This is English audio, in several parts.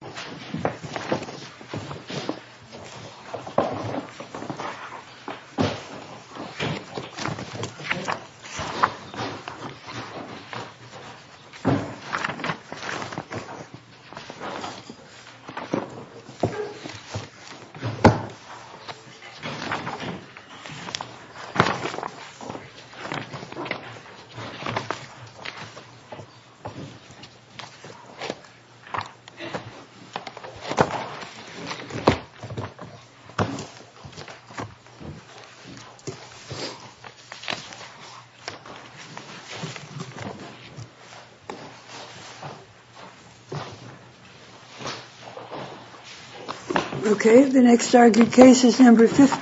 Veterans of America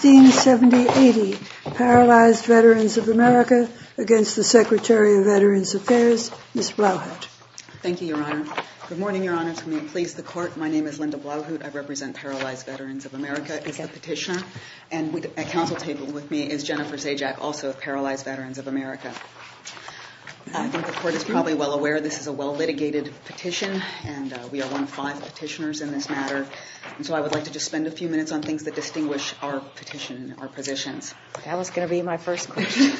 v. VA Paralyzed Veterans of America v. Secretary of Veterans Affairs Ms. Blouhut. Thank you, Your Honor. Good morning, Your Honor. To me, please, the Court. My name is Linda Blouhut. I represent Paralyzed Veterans of America as a petitioner. And at counsel table with me is Jennifer Sajak, also of Paralyzed Veterans of America. I think the Court is probably well aware this is a well-litigated petition, and we are one of five petitioners in this matter. And so I would like to just spend a few minutes on things that distinguish our petition, our positions. That was going to be my first question.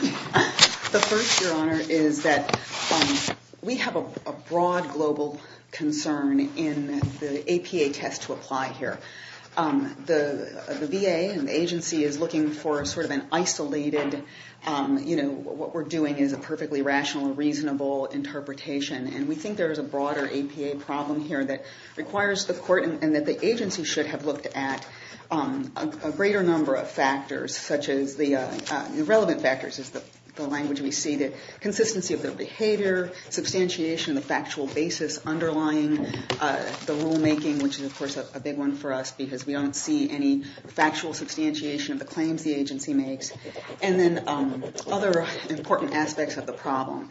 The first, Your Honor, is that we have a broad global concern in the APA test to apply here. The VA and the agency is looking for sort of an isolated, you know, what we're doing is a perfectly rational and reasonable interpretation. And we think there is a broader APA problem here that requires the Court and that the agency should have looked at a greater number of factors, such as the relevant factors is the language we see, the consistency of their behavior, substantiation, the factual basis underlying the rulemaking, which is, of course, a big one for us, because we don't see any factual substantiation of the claims the agency makes, and then other important aspects of the problem.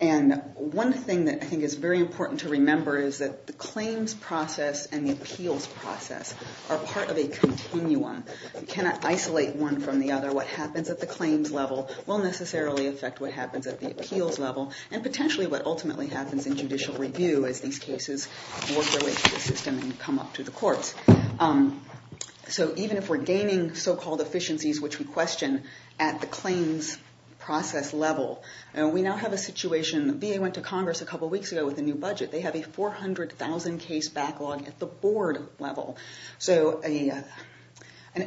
And one thing that I think is very important to remember is that the claims process and the appeals process are part of a continuum. You cannot isolate one from the other. What happens at the claims level will necessarily affect what happens at the appeals level and potentially what ultimately happens in judicial review as these cases work their way through the system and come up to the courts. So even if we're gaining so-called efficiencies which we question at the claims process level, we now have a situation. The VA went to Congress a couple weeks ago with a new budget. They have a 400,000-case backlog at the board level. So an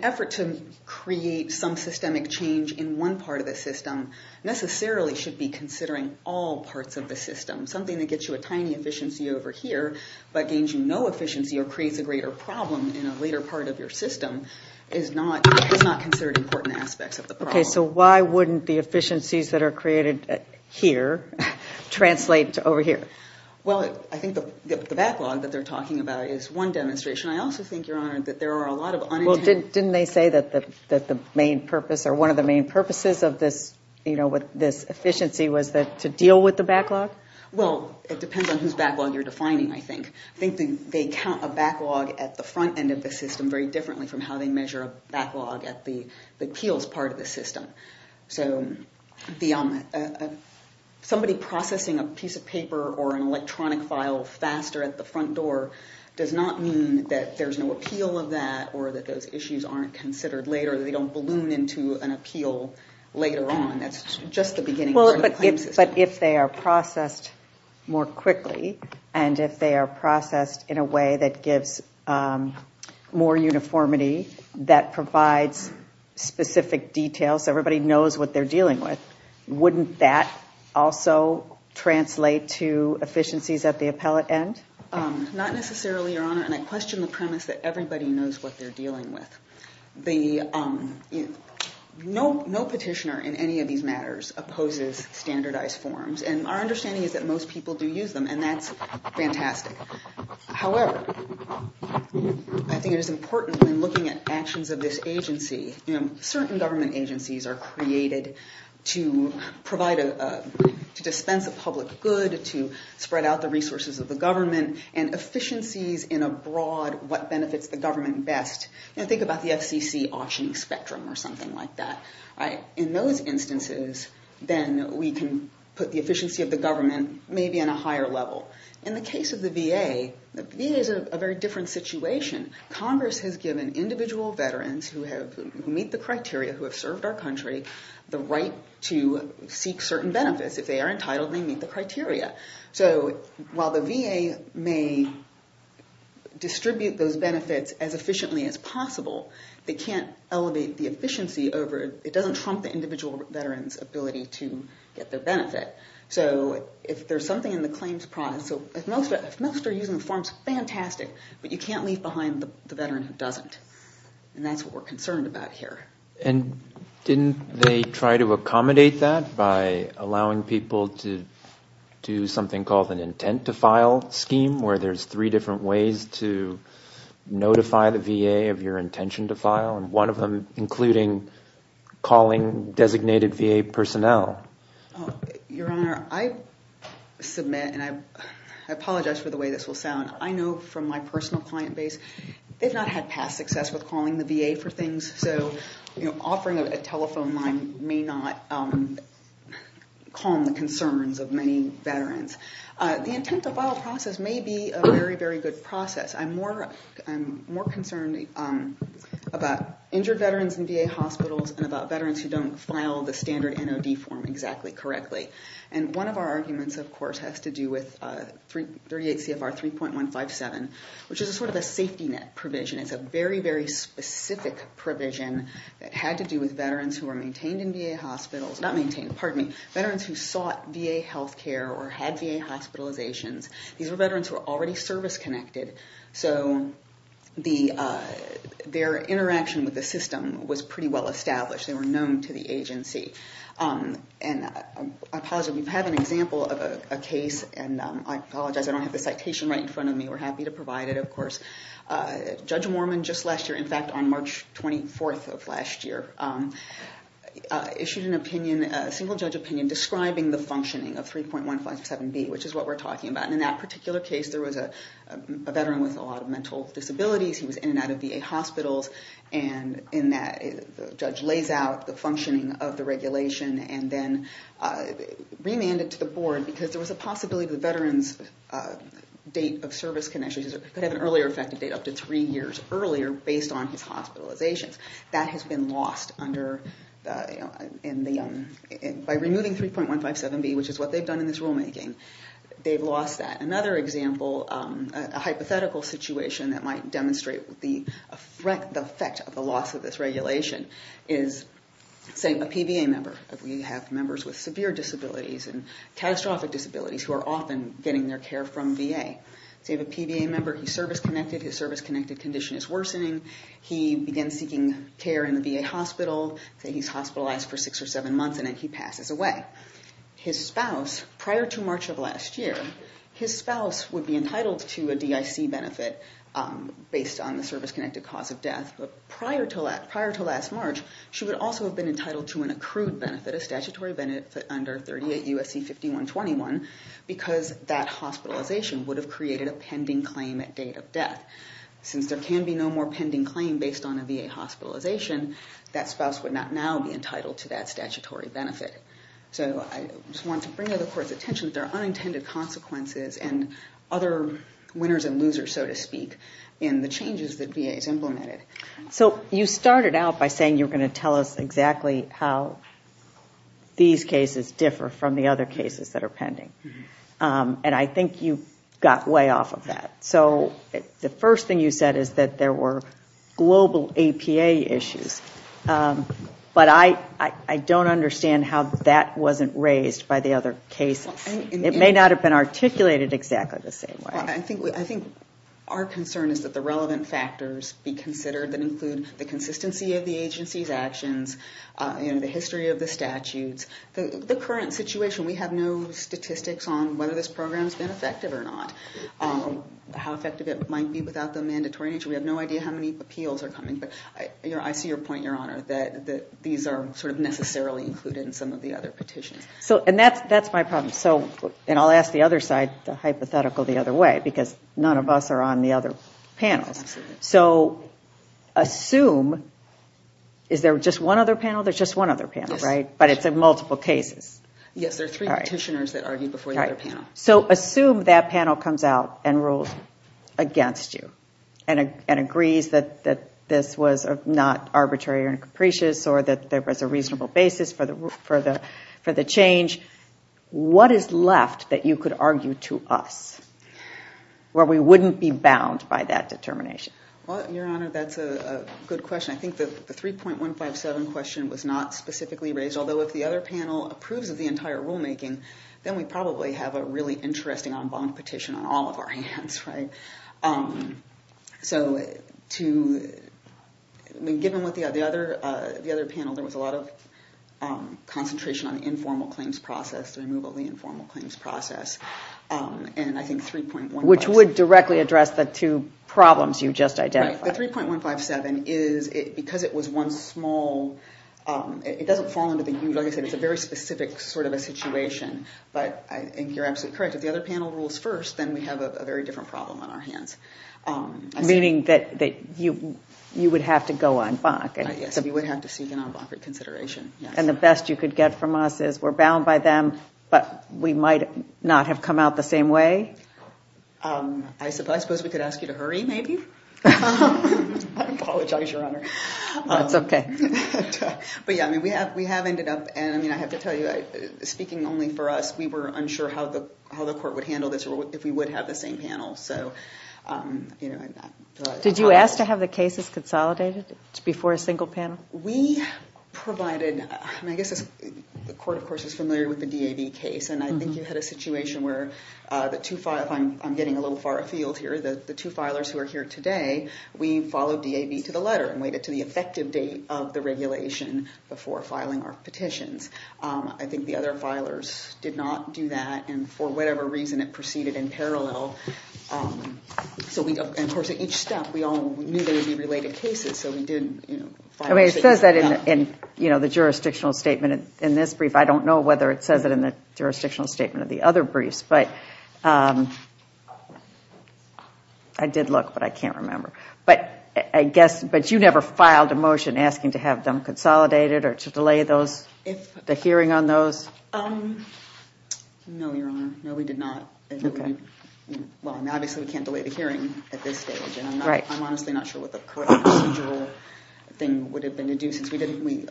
effort to create some systemic change in one part of the system necessarily should be considering all parts of the system. Something that gets you a tiny efficiency over here but gains you no efficiency or creates a greater problem in a later part of your system is not considered important aspects of the problem. Okay, so why wouldn't the efficiencies that are created here translate to over here? Well, I think the backlog that they're talking about is one demonstration. I also think, Your Honor, that there are a lot of unintended- Well, didn't they say that the main purpose or one of the main purposes of this efficiency was to deal with the backlog? Well, it depends on whose backlog you're defining, I think. I think they count a backlog at the front end of the system very differently from how they measure a backlog at the appeals part of the system. So somebody processing a piece of paper or an electronic file faster at the front door does not mean that there's no appeal of that or that those issues aren't considered later, that they don't balloon into an appeal later on. That's just the beginning part of the claim system. But if they are processed more quickly and if they are processed in a way that gives more uniformity, that provides specific details so everybody knows what they're dealing with, wouldn't that also translate to efficiencies at the appellate end? Not necessarily, Your Honor, and I question the premise that everybody knows what they're dealing with. No petitioner in any of these matters opposes standardized forms, and our understanding is that most people do use them, and that's fantastic. However, I think it is important when looking at actions of this agency, certain government agencies are created to dispense a public good, to spread out the resources of the government, and efficiencies in a broad what benefits the government best. Think about the FCC auctioning spectrum or something like that. In those instances, then we can put the efficiency of the government maybe on a higher level. In the case of the VA, the VA is a very different situation. Congress has given individual veterans who meet the criteria, who have served our country, the right to seek certain benefits. If they are entitled, they meet the criteria. So while the VA may distribute those benefits as efficiently as possible, they can't elevate the efficiency over it. It doesn't trump the individual veteran's ability to get their benefit. So if there's something in the claims process, if most are using the forms, fantastic, but you can't leave behind the veteran who doesn't, and that's what we're concerned about here. Didn't they try to accommodate that by allowing people to do something called an intent-to-file scheme, where there's three different ways to notify the VA of your intention to file, and one of them including calling designated VA personnel? Your Honor, I submit, and I apologize for the way this will sound. I know from my personal client base, they've not had past success with calling the VA for things. So offering a telephone line may not calm the concerns of many veterans. The intent-to-file process may be a very, very good process. I'm more concerned about injured veterans in VA hospitals and about veterans who don't file the standard NOD form exactly correctly. And one of our arguments, of course, has to do with 38 CFR 3.157, which is sort of a safety net provision. It's a very, very specific provision that had to do with veterans who were maintained in VA hospitals. Not maintained. Pardon me. Veterans who sought VA health care or had VA hospitalizations. These were veterans who were already service-connected, so their interaction with the system was pretty well established. They were known to the agency. And I apologize. We have an example of a case, and I apologize. I don't have the citation right in front of me. We're happy to provide it, of course. Judge Mormon, just last year, in fact, on March 24th of last year, issued an opinion, a single-judge opinion, describing the functioning of 3.157B, which is what we're talking about. And in that particular case, there was a veteran with a lot of mental disabilities. He was in and out of VA hospitals. And in that, the judge lays out the functioning of the regulation and then remanded it to the board because there was a possibility that the veteran's date of service connection could have an earlier effective date, up to three years earlier, based on his hospitalizations. That has been lost by removing 3.157B, which is what they've done in this rulemaking. They've lost that. Another example, a hypothetical situation that might demonstrate the effect of the loss of this regulation, is a PVA member. We have members with severe disabilities and catastrophic disabilities who are often getting their care from VA. So you have a PVA member, he's service-connected. His service-connected condition is worsening. He begins seeking care in the VA hospital. Say he's hospitalized for six or seven months, and then he passes away. His spouse, prior to March of last year, his spouse would be entitled to a DIC benefit based on the service-connected cause of death. Prior to last March, she would also have been entitled to an accrued benefit, a statutory benefit under 38 U.S.C. 5121, because that hospitalization would have created a pending claim at date of death. Since there can be no more pending claim based on a VA hospitalization, that spouse would not now be entitled to that statutory benefit. So I just want to bring to the Court's attention that there are unintended consequences and other winners and losers, so to speak, in the changes that VA has implemented. So you started out by saying you were going to tell us exactly how these cases differ from the other cases that are pending, and I think you got way off of that. So the first thing you said is that there were global APA issues, but I don't understand how that wasn't raised by the other cases. It may not have been articulated exactly the same way. I think our concern is that the relevant factors be considered that include the consistency of the agency's actions and the history of the statutes. The current situation, we have no statistics on whether this program has been effective or not, how effective it might be without the mandatory nature. We have no idea how many appeals are coming, but I see your point, Your Honor, that these are sort of necessarily included in some of the other petitions. And that's my problem. And I'll ask the other side, the hypothetical the other way, because none of us are on the other panels. So assume, is there just one other panel? There's just one other panel, right? But it's in multiple cases. Yes, there are three petitioners that argued before the other panel. So assume that panel comes out and rules against you and agrees that this was not arbitrary or capricious or that there was a reasonable basis for the change. What is left that you could argue to us where we wouldn't be bound by that determination? Well, Your Honor, that's a good question. I think the 3.157 question was not specifically raised, although if the other panel approves of the entire rulemaking, then we probably have a really interesting en banc petition on all of our hands, right? So given what the other panel, there was a lot of concentration on the informal claims process, the removal of the informal claims process, and I think 3.157. Which would directly address the two problems you just identified. Right, the 3.157 is, because it was one small, it doesn't fall into the huge, like I said, it's a very specific sort of a situation. But I think you're absolutely correct. If the other panel rules first, then we have a very different problem on our hands. Meaning that you would have to go en banc? Yes, we would have to seek an en banc reconsideration. And the best you could get from us is we're bound by them, but we might not have come out the same way? I suppose we could ask you to hurry, maybe? I apologize, Your Honor. That's okay. But yeah, we have ended up, and I have to tell you, speaking only for us, we were unsure how the court would handle this or if we would have the same panel. Did you ask to have the cases consolidated before a single panel? We provided, and I guess the court, of course, is familiar with the DAB case, and I think you had a situation where the two, if I'm getting a little far afield here, the two filers who are here today, we followed DAB to the letter and waited to the effective date of the regulation before filing our petitions. I think the other filers did not do that, and for whatever reason it proceeded in parallel. So we, of course, at each step we all knew there would be related cases, so we didn't file a petition. It says that in the jurisdictional statement in this brief. I don't know whether it says it in the jurisdictional statement of the other briefs, but I did look, but I can't remember. But I guess, but you never filed a motion asking to have them consolidated or to delay the hearing on those? No, Your Honor. No, we did not. Well, obviously we can't delay the hearing at this stage, and I'm honestly not sure what the correct procedural thing would have been to do since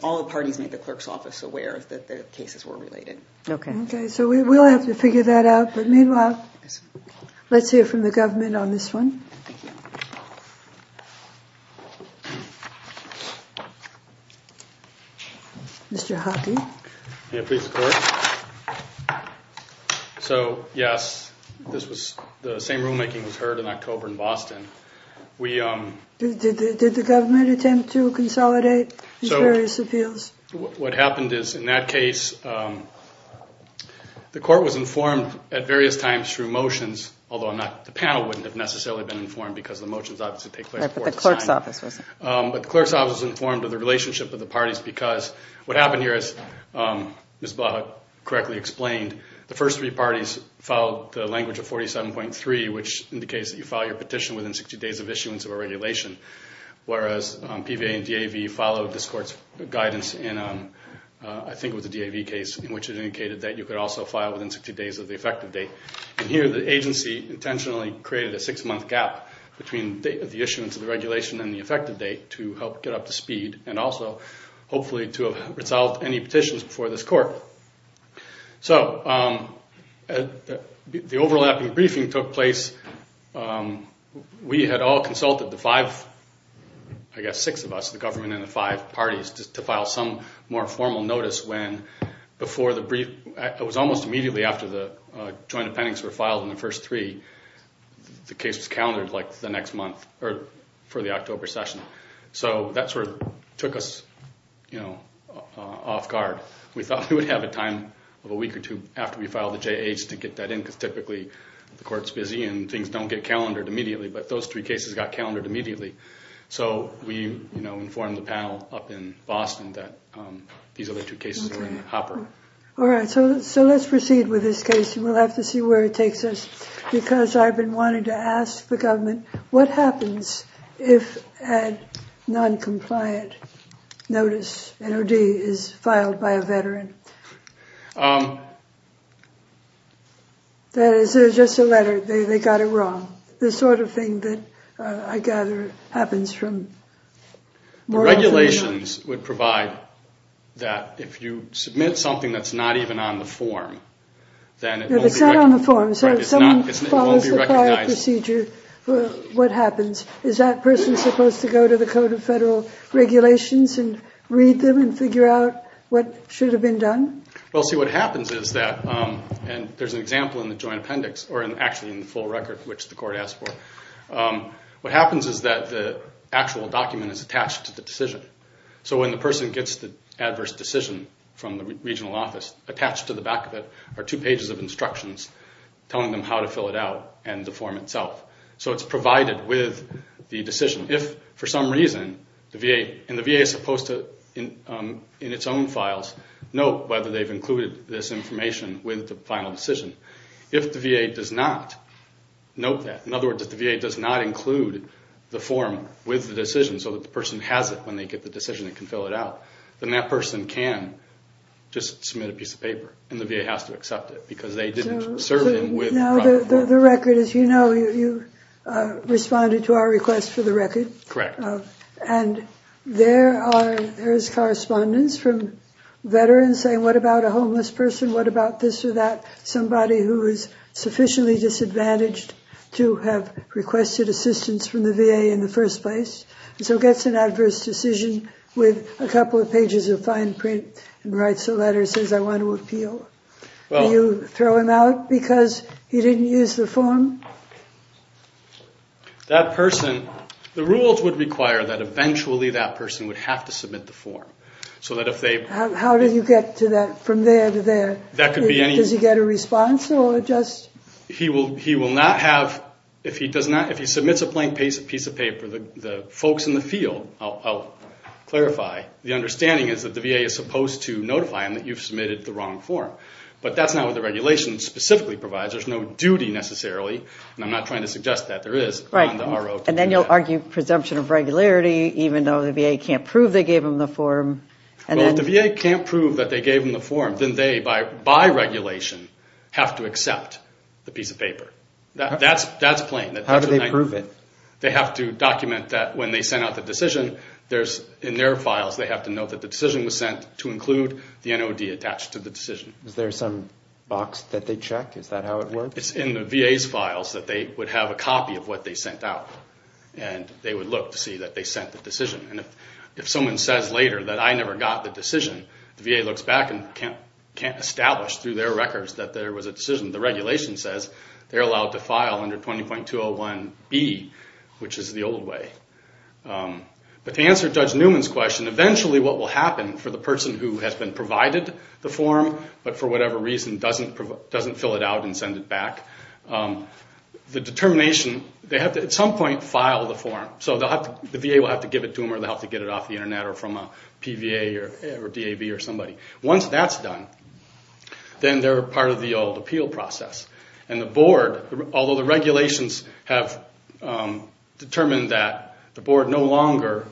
all the parties made the clerk's office aware that the cases were related. Okay. Okay, so we'll have to figure that out. But meanwhile, let's hear from the government on this one. Mr. Hockey. May it please the Court? So, yes, the same rulemaking was heard in October in Boston. Did the government attempt to consolidate the various appeals? What happened is, in that case, the Court was informed at various times through motions, although the panel wouldn't have necessarily been informed because the motions obviously take place before the signing. Right, but the clerk's office was. But the clerk's office was informed of the relationship of the parties because what happened here, as Ms. Blahut correctly explained, the first three parties followed the language of 47.3, which indicates that you file your petition within 60 days of issuance of a regulation, whereas PVA and DAV followed this Court's guidance in, I think it was the DAV case, in which it indicated that you could also file within 60 days of the effective date. And here the agency intentionally created a six-month gap between the issuance of the regulation and the effective date to help get up to speed and also hopefully to have resolved any petitions before this Court. So the overlapping briefing took place. We had all consulted, the five, I guess six of us, the government and the five parties, to file some more formal notice when, before the brief, it was almost immediately after the Joint Appendix were filed in the first three, the case was calendared, like, the next month or for the October session. So that sort of took us, you know, off guard. We thought we would have a time of a week or two after we filed the J-8s to get that in because typically the Court's busy and things don't get calendared immediately, but those three cases got calendared immediately. So we, you know, informed the panel up in Boston that these other two cases were in the hopper. All right, so let's proceed with this case. We'll have to see where it takes us because I've been wanting to ask the government, what happens if a noncompliant notice, an O.D., is filed by a veteran? That is just a letter. They got it wrong, the sort of thing that I gather happens from more information. The regulations would provide that if you submit something that's not even on the form, then it won't be recognized. So if someone follows the prior procedure, what happens? Is that person supposed to go to the Code of Federal Regulations and read them and figure out what should have been done? Well, see, what happens is that, and there's an example in the Joint Appendix, or actually in the full record, which the Court asked for, what happens is that the actual document is attached to the decision. So when the person gets the adverse decision from the regional office, attached to the back of it are two pages of instructions telling them how to fill it out and the form itself. So it's provided with the decision. If, for some reason, the VA, and the VA is supposed to, in its own files, note whether they've included this information with the final decision. If the VA does not note that, in other words, if the VA does not include the form with the decision so that the person has it when they get the decision and can fill it out, then that person can just submit a piece of paper, and the VA has to accept it because they didn't serve them with the form. Now, the record, as you know, you responded to our request for the record. Correct. And there is correspondence from veterans saying, what about a homeless person, what about this or that, somebody who is sufficiently disadvantaged to have requested assistance from the VA in the first place. So he gets an adverse decision with a couple of pages of fine print and writes a letter and says, I want to appeal. Do you throw him out because he didn't use the form? That person, the rules would require that eventually that person would have to submit the form. How do you get from there to there? Does he get a response? He will not have, if he submits a plain piece of paper, the folks in the field, I'll clarify, the understanding is that the VA is supposed to notify him that you've submitted the wrong form. But that's not what the regulation specifically provides. There's no duty necessarily, and I'm not trying to suggest that. There is on the ROT. And then you'll argue presumption of regularity, even though the VA can't prove they gave him the form. Well, if the VA can't prove that they gave him the form, then they, by regulation, have to accept the piece of paper. That's plain. How do they prove it? They have to document that when they send out the decision, in their files they have to note that the decision was sent to include the NOD attached to the decision. Is there some box that they check? Is that how it works? It's in the VA's files that they would have a copy of what they sent out. And they would look to see that they sent the decision. And if someone says later that I never got the decision, the VA looks back and can't establish through their records that there was a decision. The regulation says they're allowed to file under 20.201B, which is the old way. But to answer Judge Newman's question, eventually what will happen for the person who has been provided the form but for whatever reason doesn't fill it out and send it back, the determination, they have to at some point file the form. So the VA will have to give it to them or they'll have to get it off the Internet or from a PVA or DAV or somebody. Once that's done, then they're part of the old appeal process. And the board, although the regulations have determined that the board no longer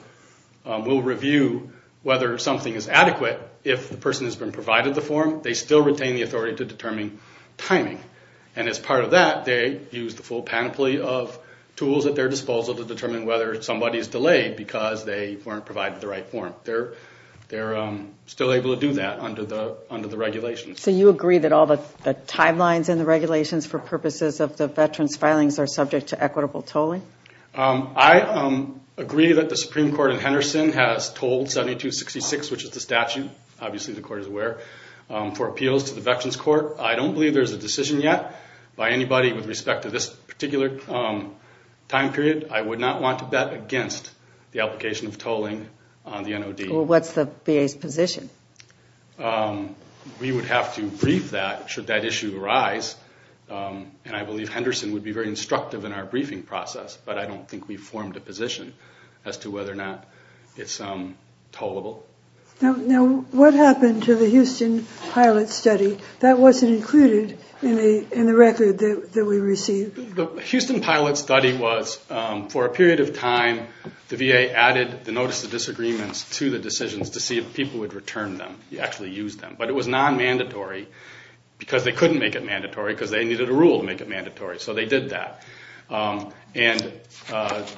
will review whether something is adequate if the person has been provided the form, they still retain the authority to determine timing. And as part of that, they use the full panoply of tools at their disposal to determine whether somebody is delayed because they weren't provided the right form. They're still able to do that under the regulations. So you agree that all the timelines in the regulations for purposes of the veterans' filings are subject to equitable tolling? I agree that the Supreme Court in Henderson has tolled 7266, which is the statute, obviously the Court is aware, for appeals to the Veterans Court. I don't believe there's a decision yet by anybody with respect to this particular time period. I would not want to bet against the application of tolling on the NOD. Well, what's the VA's position? We would have to brief that should that issue arise. And I believe Henderson would be very instructive in our briefing process, but I don't think we've formed a position as to whether or not it's tollable. Now, what happened to the Houston pilot study? That wasn't included in the record that we received. The Houston pilot study was, for a period of time, the VA added the Notice of Disagreements to the decisions to see if people would return them, actually use them. But it was non-mandatory because they couldn't make it mandatory because they needed a rule to make it mandatory, so they did that. And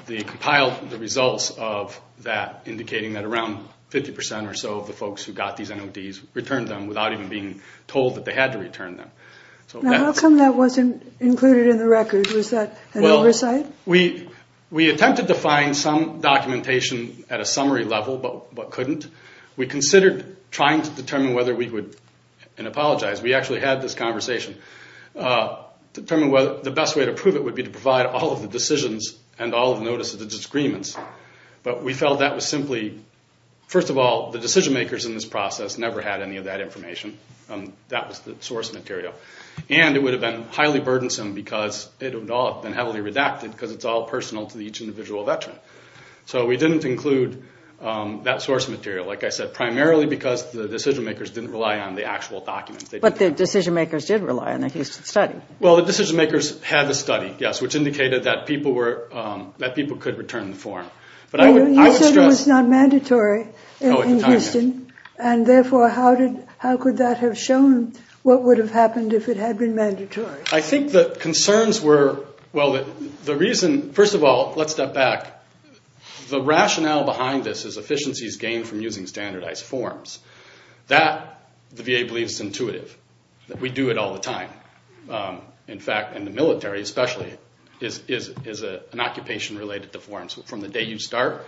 they compiled the results of that, indicating that around 50% or so of the folks who got these NODs returned them without even being told that they had to return them. Now, how come that wasn't included in the record? Was that an oversight? We attempted to find some documentation at a summary level, but couldn't. We considered trying to determine whether we would, and I apologize, we actually had this conversation, determine whether the best way to prove it would be to provide all of the decisions and all of the Notice of Disagreements. But we felt that was simply, first of all, the decision makers in this process never had any of that information. That was the source material. And it would have been highly burdensome because it would all have been heavily redacted because it's all personal to each individual veteran. So we didn't include that source material, like I said, primarily because the decision makers didn't rely on the actual documents. But the decision makers did rely on the Houston study. Well, the decision makers had the study, yes, You said it was not mandatory in Houston, and therefore how could that have shown what would have happened if it had been mandatory? I think the concerns were, well, the reason, first of all, let's step back, the rationale behind this is efficiencies gained from using standardized forms. That, the VA believes, is intuitive. We do it all the time. In fact, in the military especially, is an occupation related to forms. From the day you start,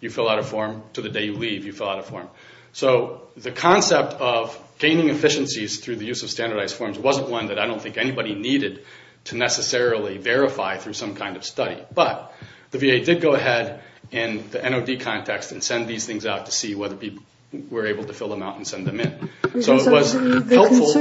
you fill out a form, to the day you leave, you fill out a form. So the concept of gaining efficiencies through the use of standardized forms wasn't one that I don't think anybody needed to necessarily verify through some kind of study. But the VA did go ahead in the NOD context and send these things out to see whether people were able to fill them out and send them in. So it was helpful.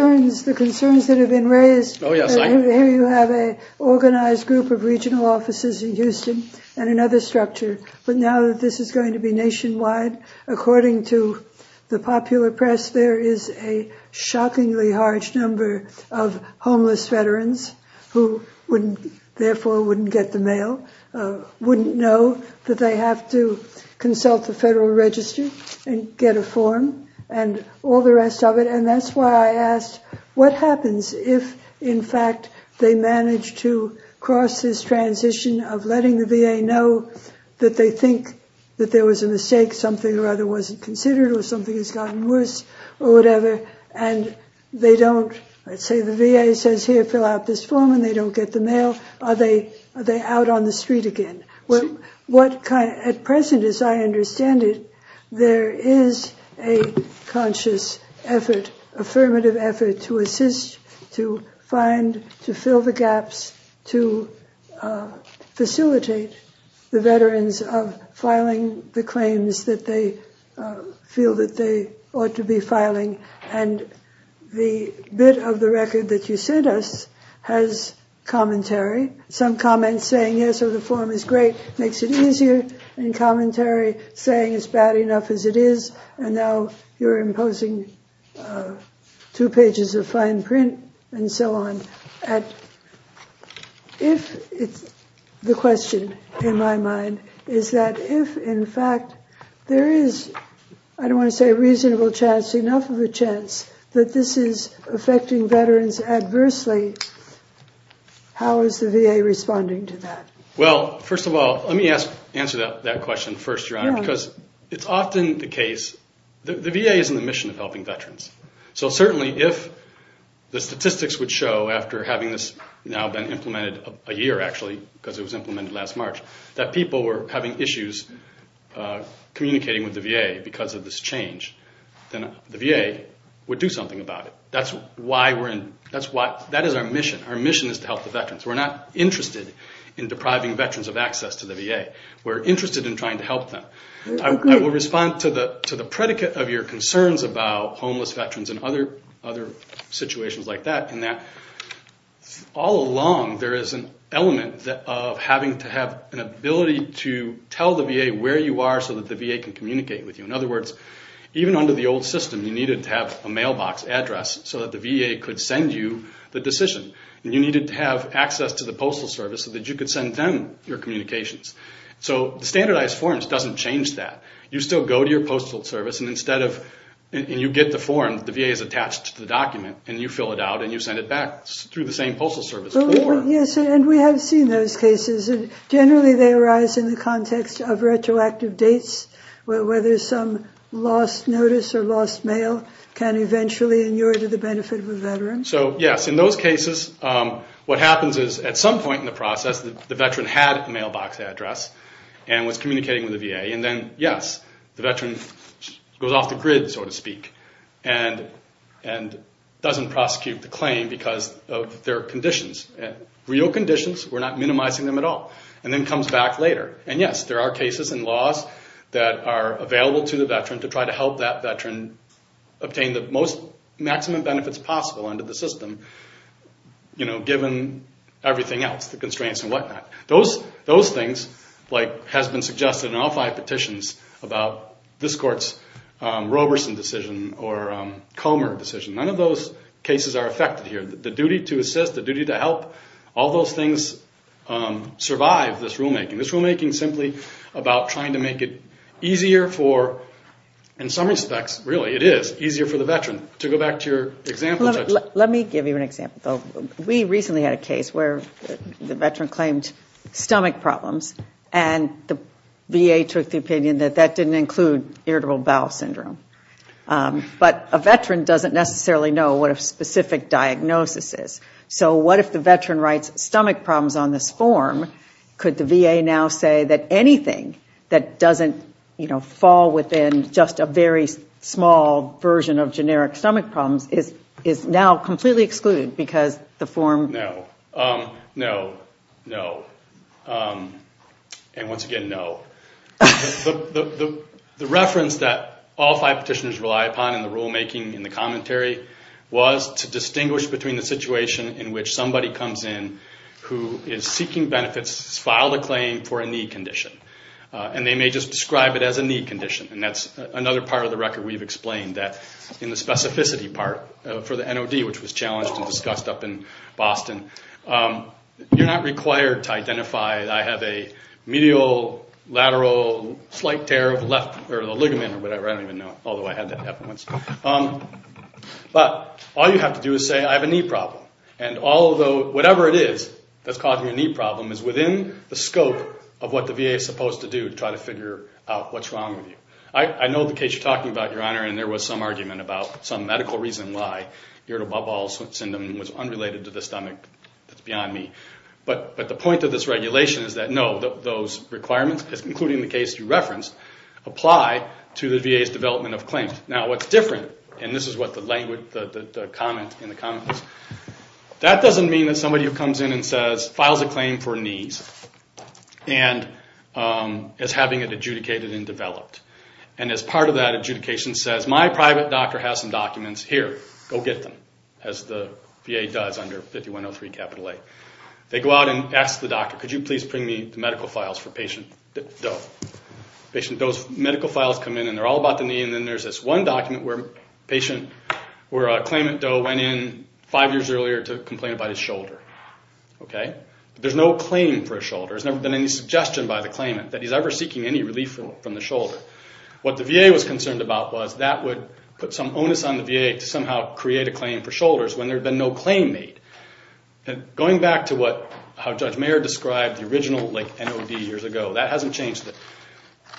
The concerns that have been raised, here you have an organized group of regional offices in Houston and another structure, but now that this is going to be nationwide, according to the popular press, there is a shockingly large number of homeless veterans who therefore wouldn't get the mail, wouldn't know that they have to consult the Federal Register and get a form and all the rest of it. And that's why I asked, what happens if, in fact, they manage to cross this transition of letting the VA know that they think that there was a mistake, something rather wasn't considered or something has gotten worse or whatever, and they don't, let's say the VA says, here, fill out this form and they don't get the mail, are they out on the street again? At present, as I understand it, there is a conscious effort, affirmative effort to assist, to find, to fill the gaps, to facilitate the veterans of filing the claims that they feel that they ought to be filing. And the bit of the record that you sent us has commentary, some comments saying, yes, the form is great, makes it easier, and commentary saying it's bad enough as it is, and now you're imposing two pages of fine print and so on. If the question in my mind is that if, in fact, there is, I don't want to say a reasonable chance, enough of a chance that this is affecting veterans adversely, how is the VA responding to that? Well, first of all, let me answer that question first, Your Honor, because it's often the case, the VA is in the mission of helping veterans. So certainly if the statistics would show, after having this now been implemented a year, actually, because it was implemented last March, that people were having issues communicating with the VA because of this change, then the VA would do something about it. That is our mission. Our mission is to help the veterans. We're not interested in depriving veterans of access to the VA. We're interested in trying to help them. I will respond to the predicate of your concerns about homeless veterans and other situations like that, in that all along there is an element of having to have an ability to tell the VA where you are so that the VA can communicate with you. In other words, even under the old system, you needed to have a mailbox address so that the VA could send you the decision, and you needed to have access to the Postal Service so that you could send them your communications. So the standardized forms doesn't change that. You still go to your Postal Service, and you get the form. The VA is attached to the document, and you fill it out, and you send it back through the same Postal Service. Yes, and we have seen those cases. Generally they arise in the context of retroactive dates, whether some lost notice or lost mail can eventually inure to the benefit of a veteran. Yes, in those cases what happens is at some point in the process, the veteran had a mailbox address and was communicating with the VA, and then yes, the veteran goes off the grid, so to speak, and doesn't prosecute the claim because of their conditions, real conditions. We're not minimizing them at all, and then comes back later. And yes, there are cases and laws that are available to the veteran to try to help that veteran obtain the most maximum benefits possible under the system, given everything else, the constraints and whatnot. Those things, like has been suggested in all five petitions about this court's Roberson decision or Comer decision, none of those cases are affected here. The duty to assist, the duty to help, all those things survive this rulemaking. This rulemaking is simply about trying to make it easier for, in some respects really it is, easier for the veteran. To go back to your example, Judge. Let me give you an example. We recently had a case where the veteran claimed stomach problems, and the VA took the opinion that that didn't include irritable bowel syndrome. But a veteran doesn't necessarily know what a specific diagnosis is. So what if the veteran writes stomach problems on this form? Could the VA now say that anything that doesn't fall within just a very small version of generic stomach problems is now completely excluded because the form- No. No. No. And once again, no. The reference that all five petitioners rely upon in the rulemaking, in the commentary, was to distinguish between the situation in which somebody comes in who is seeking benefits, has filed a claim for a need condition, and they may just describe it as a need condition. And that's another part of the record we've explained, that in the specificity part for the NOD, which was challenged and discussed up in Boston, you're not required to identify, I have a medial lateral slight tear of the left or the ligament or whatever. I don't even know, although I had that happen once. But all you have to do is say, I have a knee problem. And whatever it is that's causing a knee problem is within the scope of what the VA is supposed to do to try to figure out what's wrong with you. I know the case you're talking about, Your Honor, and there was some argument about some medical reason why irritable bowel syndrome was unrelated to the stomach that's beyond me. But the point of this regulation is that, no, those requirements, including the case you referenced, apply to the VA's development of claims. Now, what's different, and this is what the comment was, that doesn't mean that somebody who comes in and says, files a claim for knees, and is having it adjudicated and developed. And as part of that adjudication says, my private doctor has some documents, here, go get them, as the VA does under 5103 capital A. They go out and ask the doctor, could you please bring me the medical files for patient Doe. Those medical files come in and they're all about the knee, and then there's this one document where a claimant, Doe, went in five years earlier to complain about his shoulder. There's no claim for a shoulder. There's never been any suggestion by the claimant that he's ever seeking any relief from the shoulder. What the VA was concerned about was that would put some onus on the VA to somehow create a claim for shoulders when there had been no claim made. Going back to how Judge Mayer described the original NOD years ago, that hasn't changed.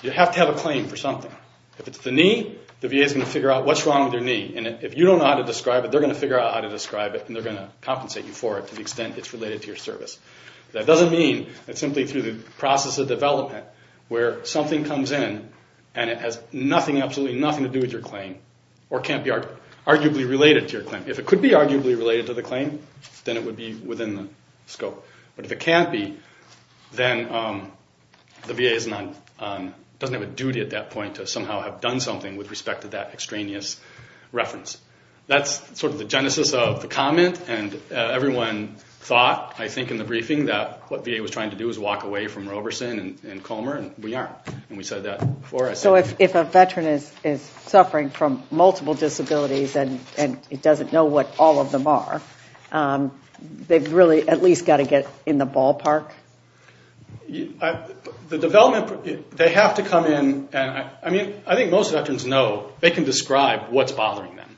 You have to have a claim for something. If it's the knee, the VA is going to figure out what's wrong with your knee. If you don't know how to describe it, they're going to figure out how to describe it, and they're going to compensate you for it to the extent it's related to your service. That doesn't mean that simply through the process of development where something comes in and it has absolutely nothing to do with your claim or can't be arguably related to your claim. If it could be arguably related to the claim, then it would be within the scope. But if it can't be, then the VA doesn't have a duty at that point to somehow have done something with respect to that extraneous reference. That's sort of the genesis of the comment, and everyone thought, I think, in the briefing, that what VA was trying to do was walk away from Roberson and Comer, and we aren't. And we said that before. So if a veteran is suffering from multiple disabilities and doesn't know what all of them are, they've really at least got to get in the ballpark? The development, they have to come in. I mean, I think most veterans know. They can describe what's bothering them.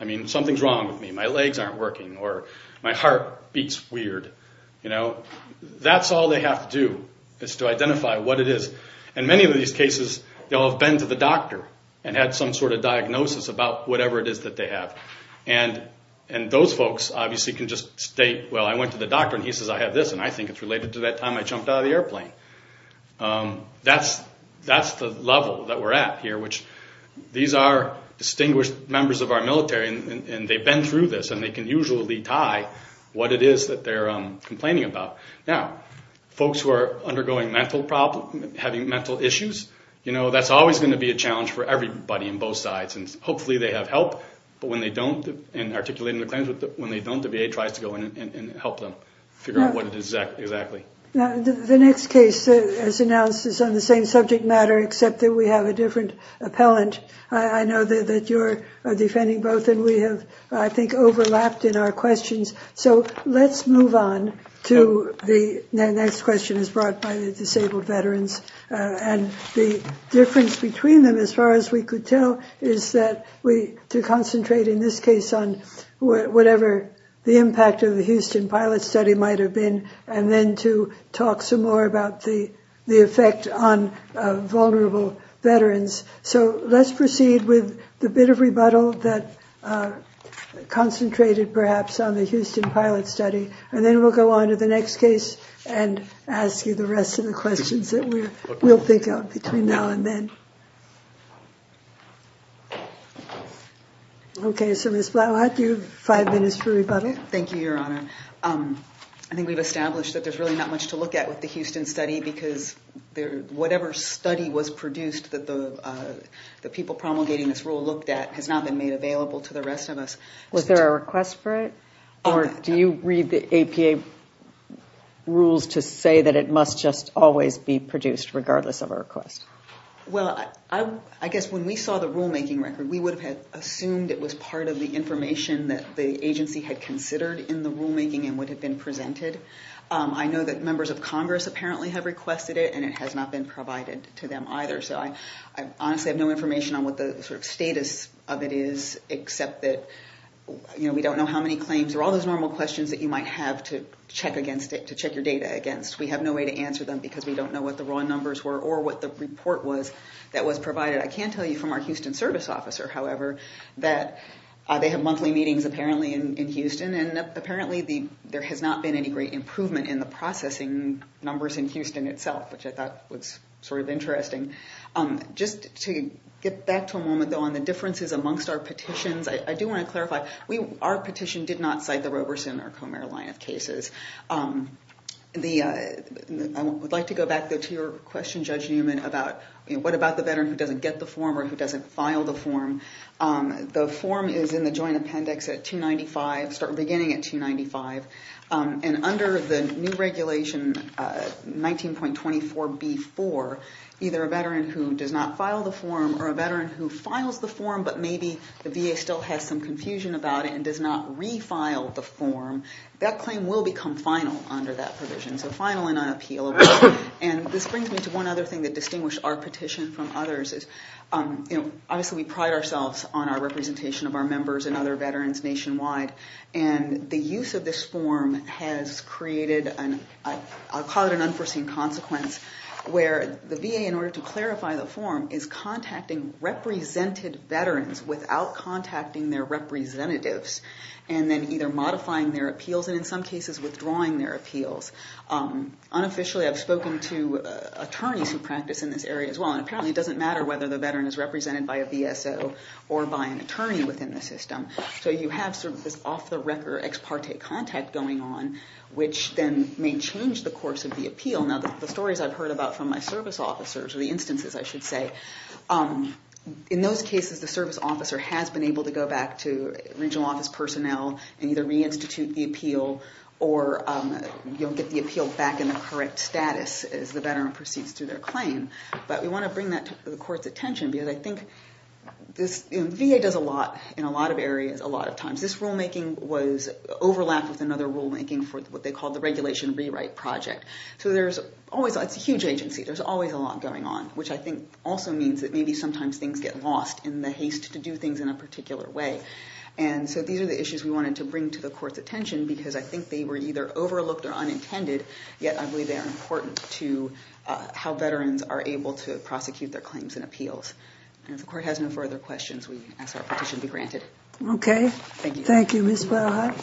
I mean, something's wrong with me. My legs aren't working or my heart beats weird. That's all they have to do is to identify what it is. In many of these cases, they'll have been to the doctor and had some sort of diagnosis about whatever it is that they have. And those folks obviously can just state, well, I went to the doctor and he says I have this, and I think it's related to that time I jumped out of the airplane. That's the level that we're at here, which these are distinguished members of our military, and they've been through this, and they can usually tie what it is that they're complaining about. Now, folks who are undergoing mental problems, having mental issues, that's always going to be a challenge for everybody on both sides. And hopefully they have help, but when they don't, and articulating the claims, when they don't, the VA tries to go in and help them figure out what it is exactly. The next case, as announced, is on the same subject matter, except that we have a different appellant. I know that you're defending both, and we have, I think, overlapped in our questions. So let's move on to the next question, as brought by the disabled veterans. And the difference between them, as far as we could tell, is that we concentrate in this case on whatever the impact of the Houston pilot study might have been, and then to talk some more about the effect on vulnerable veterans. So let's proceed with the bit of rebuttal that concentrated, perhaps, on the Houston pilot study, and then we'll go on to the next case and ask you the rest of the questions that we'll think of between now and then. Okay, so Ms. Blau, I'll give you five minutes for rebuttal. Thank you, Your Honor. I think we've established that there's really not much to look at with the Houston study, because whatever study was produced that the people promulgating this rule looked at has not been made available to the rest of us. Was there a request for it, or do you read the APA rules to say that it must just always be produced, regardless of a request? Well, I guess when we saw the rulemaking record, we would have assumed it was part of the information that the agency had considered in the rulemaking and would have been presented. I know that members of Congress apparently have requested it, and it has not been provided to them either. So I honestly have no information on what the status of it is, except that we don't know how many claims. There are all those normal questions that you might have to check your data against. We have no way to answer them because we don't know what the raw numbers were or what the report was that was provided. I can tell you from our Houston service officer, however, that they have monthly meetings, apparently, in Houston, and apparently there has not been any great improvement in the processing numbers in Houston itself, which I thought was sort of interesting. Just to get back to a moment, though, on the differences amongst our petitions, I do want to clarify, our petition did not cite the Roberson or Comer-Lyneth cases. I would like to go back to your question, Judge Newman, about what about the veteran who doesn't get the form or who doesn't file the form. The form is in the joint appendix at 295, beginning at 295. And under the new regulation, 19.24B4, either a veteran who does not file the form or a veteran who files the form but maybe the VA still has some confusion about it and does not refile the form, that claim will become final under that provision. So final and unappealable. And this brings me to one other thing that distinguished our petition from others. Obviously, we pride ourselves on our representation of our members and other veterans nationwide. And the use of this form has created, I'll call it an unforeseen consequence, where the VA, in order to clarify the form, is contacting represented veterans without contacting their representatives and then either modifying their appeals and, in some cases, withdrawing their appeals. Unofficially, I've spoken to attorneys who practice in this area as well. And apparently, it doesn't matter whether the veteran is represented by a VSO or by an attorney within the system. So you have sort of this off-the-record ex parte contact going on, which then may change the course of the appeal. Now, the stories I've heard about from my service officers, or the instances, I should say, in those cases, the service officer has been able to go back to regional office personnel and either reinstitute the appeal or get the appeal back in the correct status as the veteran proceeds through their claim. But we want to bring that to the court's attention because I think this VA does a lot in a lot of areas a lot of times. This rulemaking was overlapped with another rulemaking for what they call the Regulation Rewrite Project. So there's always a huge agency. There's always a lot going on, which I think also means that maybe sometimes things get lost in the haste to do things in a particular way. And so these are the issues we wanted to bring to the court's attention because I think they were either overlooked or unintended, yet I believe they are important to how veterans are able to prosecute their claims and appeals. And if the court has no further questions, we ask that the petition be granted. Okay. Thank you. Thank you.